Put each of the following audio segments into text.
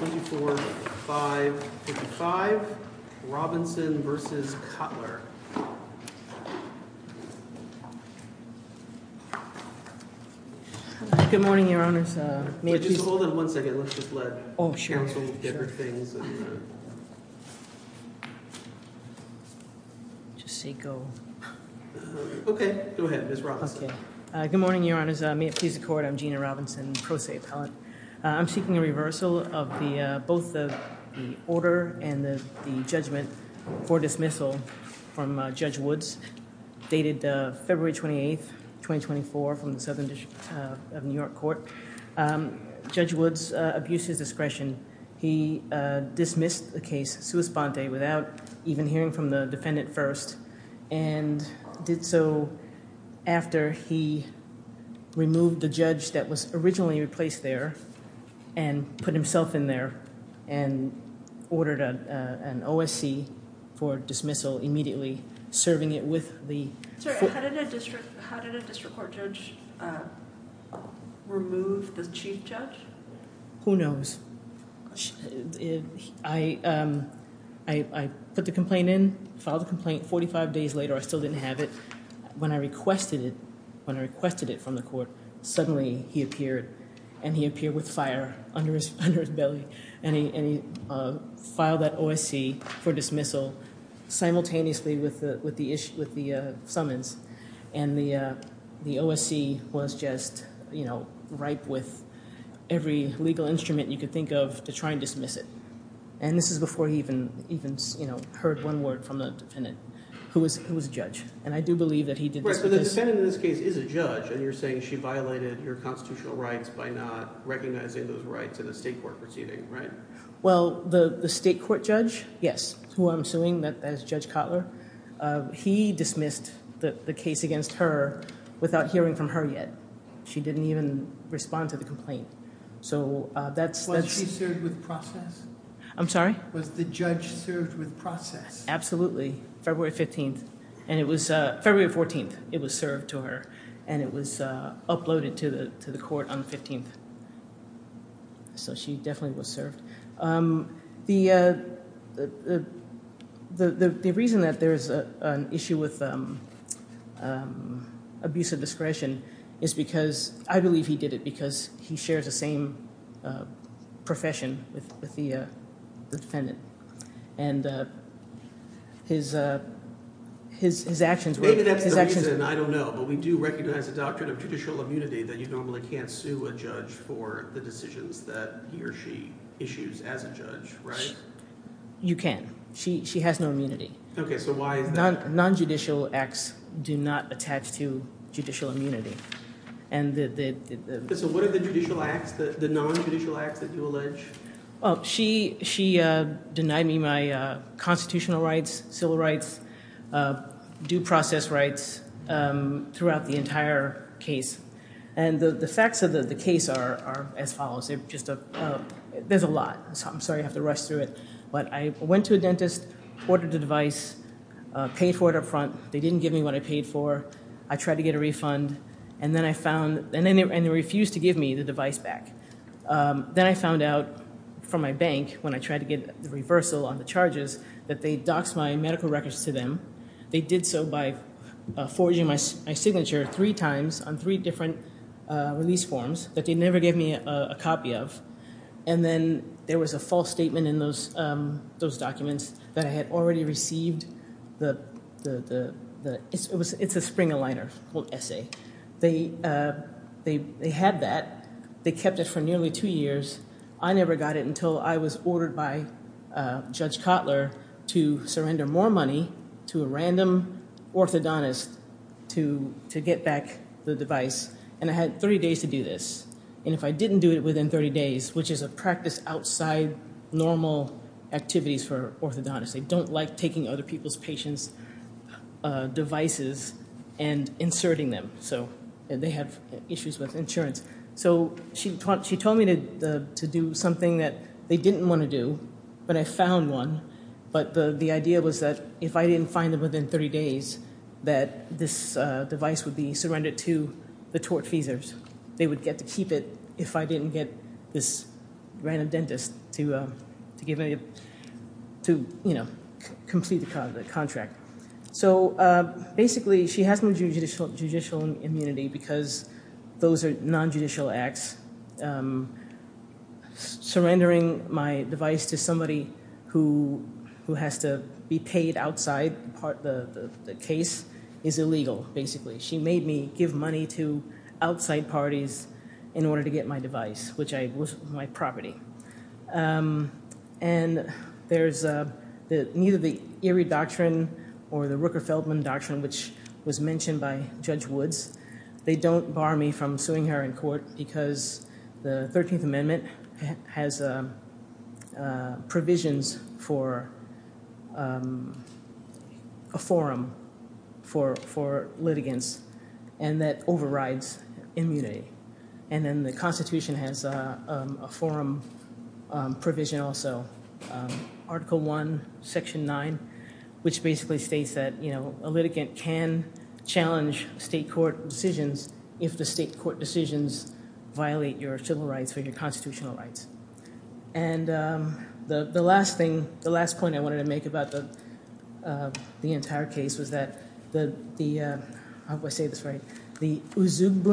May it please the Court, I'm Gina Robinson, pro se appellate. I'm seeking a reversal of both the order and the judgment for dismissal from Judge Woods, dated February 28th, 2024, from the Southern District of New York Court. Judge Woods abused his discretion. He dismissed the case sua sponte, without even hearing from the defendant first, and did so after he removed the judge that was originally replaced there and put himself in there and ordered an OSC for dismissal immediately, serving it with the... Who knows? I put the complaint in, filed the complaint, 45 days later I still didn't have it. When I requested it, when I requested it from the Court, suddenly he appeared, and he appeared with fire under his belly, and he filed that OSC for dismissal simultaneously with the summons. And the OSC was just ripe with every legal instrument you could think of to try and dismiss it. And this is before he even heard one word from the defendant, who was a judge. And I do believe that he did this... Right, but the defendant in this case is a judge, and you're saying she violated your constitutional rights by not recognizing those rights in a state court proceeding, right? Well, the state court judge, yes, who I'm suing as Judge Kotler, he dismissed the case against her without hearing from her yet. She didn't even respond to the complaint. So that's... Was she served with process? I'm sorry? Was the judge served with process? Absolutely. February 15th, and it was... February 14th, it was served to her, and it was uploaded to the court on the 15th. So she definitely was served. The reason that there's an issue with abuse of discretion is because – I believe he did it because he shares the same profession with the defendant. And his actions were... You can. She has no immunity. Okay, so why is that? Non-judicial acts do not attach to judicial immunity. And the... So what are the judicial acts, the non-judicial acts that you allege? Well, she denied me my constitutional rights, civil rights, due process rights throughout the entire case. And the facts of the case are as follows. There's a lot. I'm sorry I have to rush through it. But I went to a dentist, ordered the device, paid for it up front. They didn't give me what I paid for. I tried to get a refund, and then I found... and they refused to give me the device back. Then I found out from my bank, when I tried to get the reversal on the charges, that they doxed my medical records to them. They did so by forging my signature three times on three different release forms that they never gave me a copy of. And then there was a false statement in those documents that I had already received the... it's a spring aligner called Essay. They had that. They kept it for nearly two years. I never got it until I was ordered by Judge Kotler to surrender more money to a random orthodontist to get back the device. And I had 30 days to do this. And if I didn't do it within 30 days, which is a practice outside normal activities for orthodontists. They don't like taking other people's patients' devices and inserting them. So, they have issues with insurance. So, she told me to do something that they didn't want to do, but I found one. But the idea was that if I didn't find them within 30 days, that this device would be surrendered to the tortfeasors. They would get to keep it if I didn't get this random dentist to complete the contract. So, basically, she has no judicial immunity because those are non-judicial acts. Surrendering my device to somebody who has to be paid outside the case is illegal, basically. She made me give money to outside parties in order to get my device, which was my property. And there's neither the Erie Doctrine or the Rooker-Feldman Doctrine, which was mentioned by Judge Woods. They don't bar me from suing her in court because the 13th Amendment has provisions for a forum for litigants and that overrides immunity. And then the Constitution has a forum provision also, Article I, Section 9, which basically states that a litigant can challenge state court decisions if the state court decisions violate your civil rights or your constitutional rights. And the last thing – the last point I wanted to make about the entire case was that the – how do I say this right? You said you could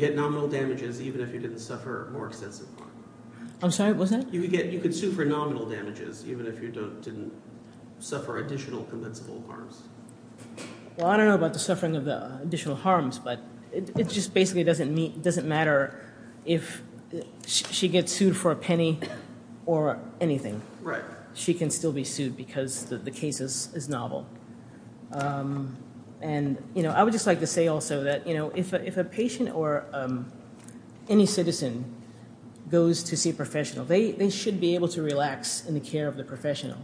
get nominal damages even if you didn't suffer more extensive harm. I'm sorry. What's that? You could get – you could sue for nominal damages even if you didn't suffer additional compensable harms. Well, I don't know about the suffering of the additional harms, but it just basically doesn't matter if she gets sued for a penny or anything. Right. She can still be sued because the case is novel. And I would just like to say also that if a patient or any citizen goes to see a professional, they should be able to relax in the care of the professional.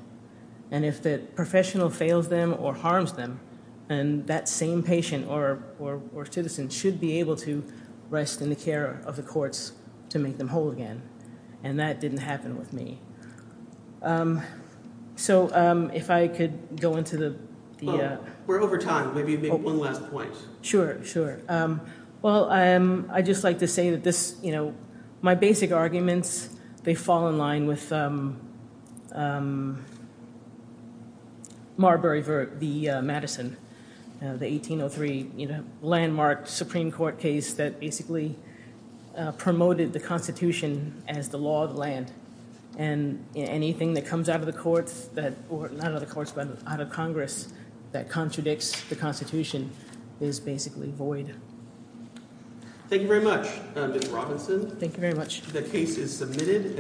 And if the professional fails them or harms them, then that same patient or citizen should be able to rest in the care of the courts to make them whole again. And that didn't happen with me. So if I could go into the – We're over time. Maybe you can make one last point. Sure, sure. Well, I just like to say that this – my basic arguments, they fall in line with Marbury v. Madison, the 1803 landmark Supreme Court case that basically promoted the Constitution as the law of the land. And anything that comes out of the courts that – or not out of the courts but out of Congress that contradicts the Constitution is basically void. Thank you very much, Ms. Robinson. Thank you very much. The case is submitted.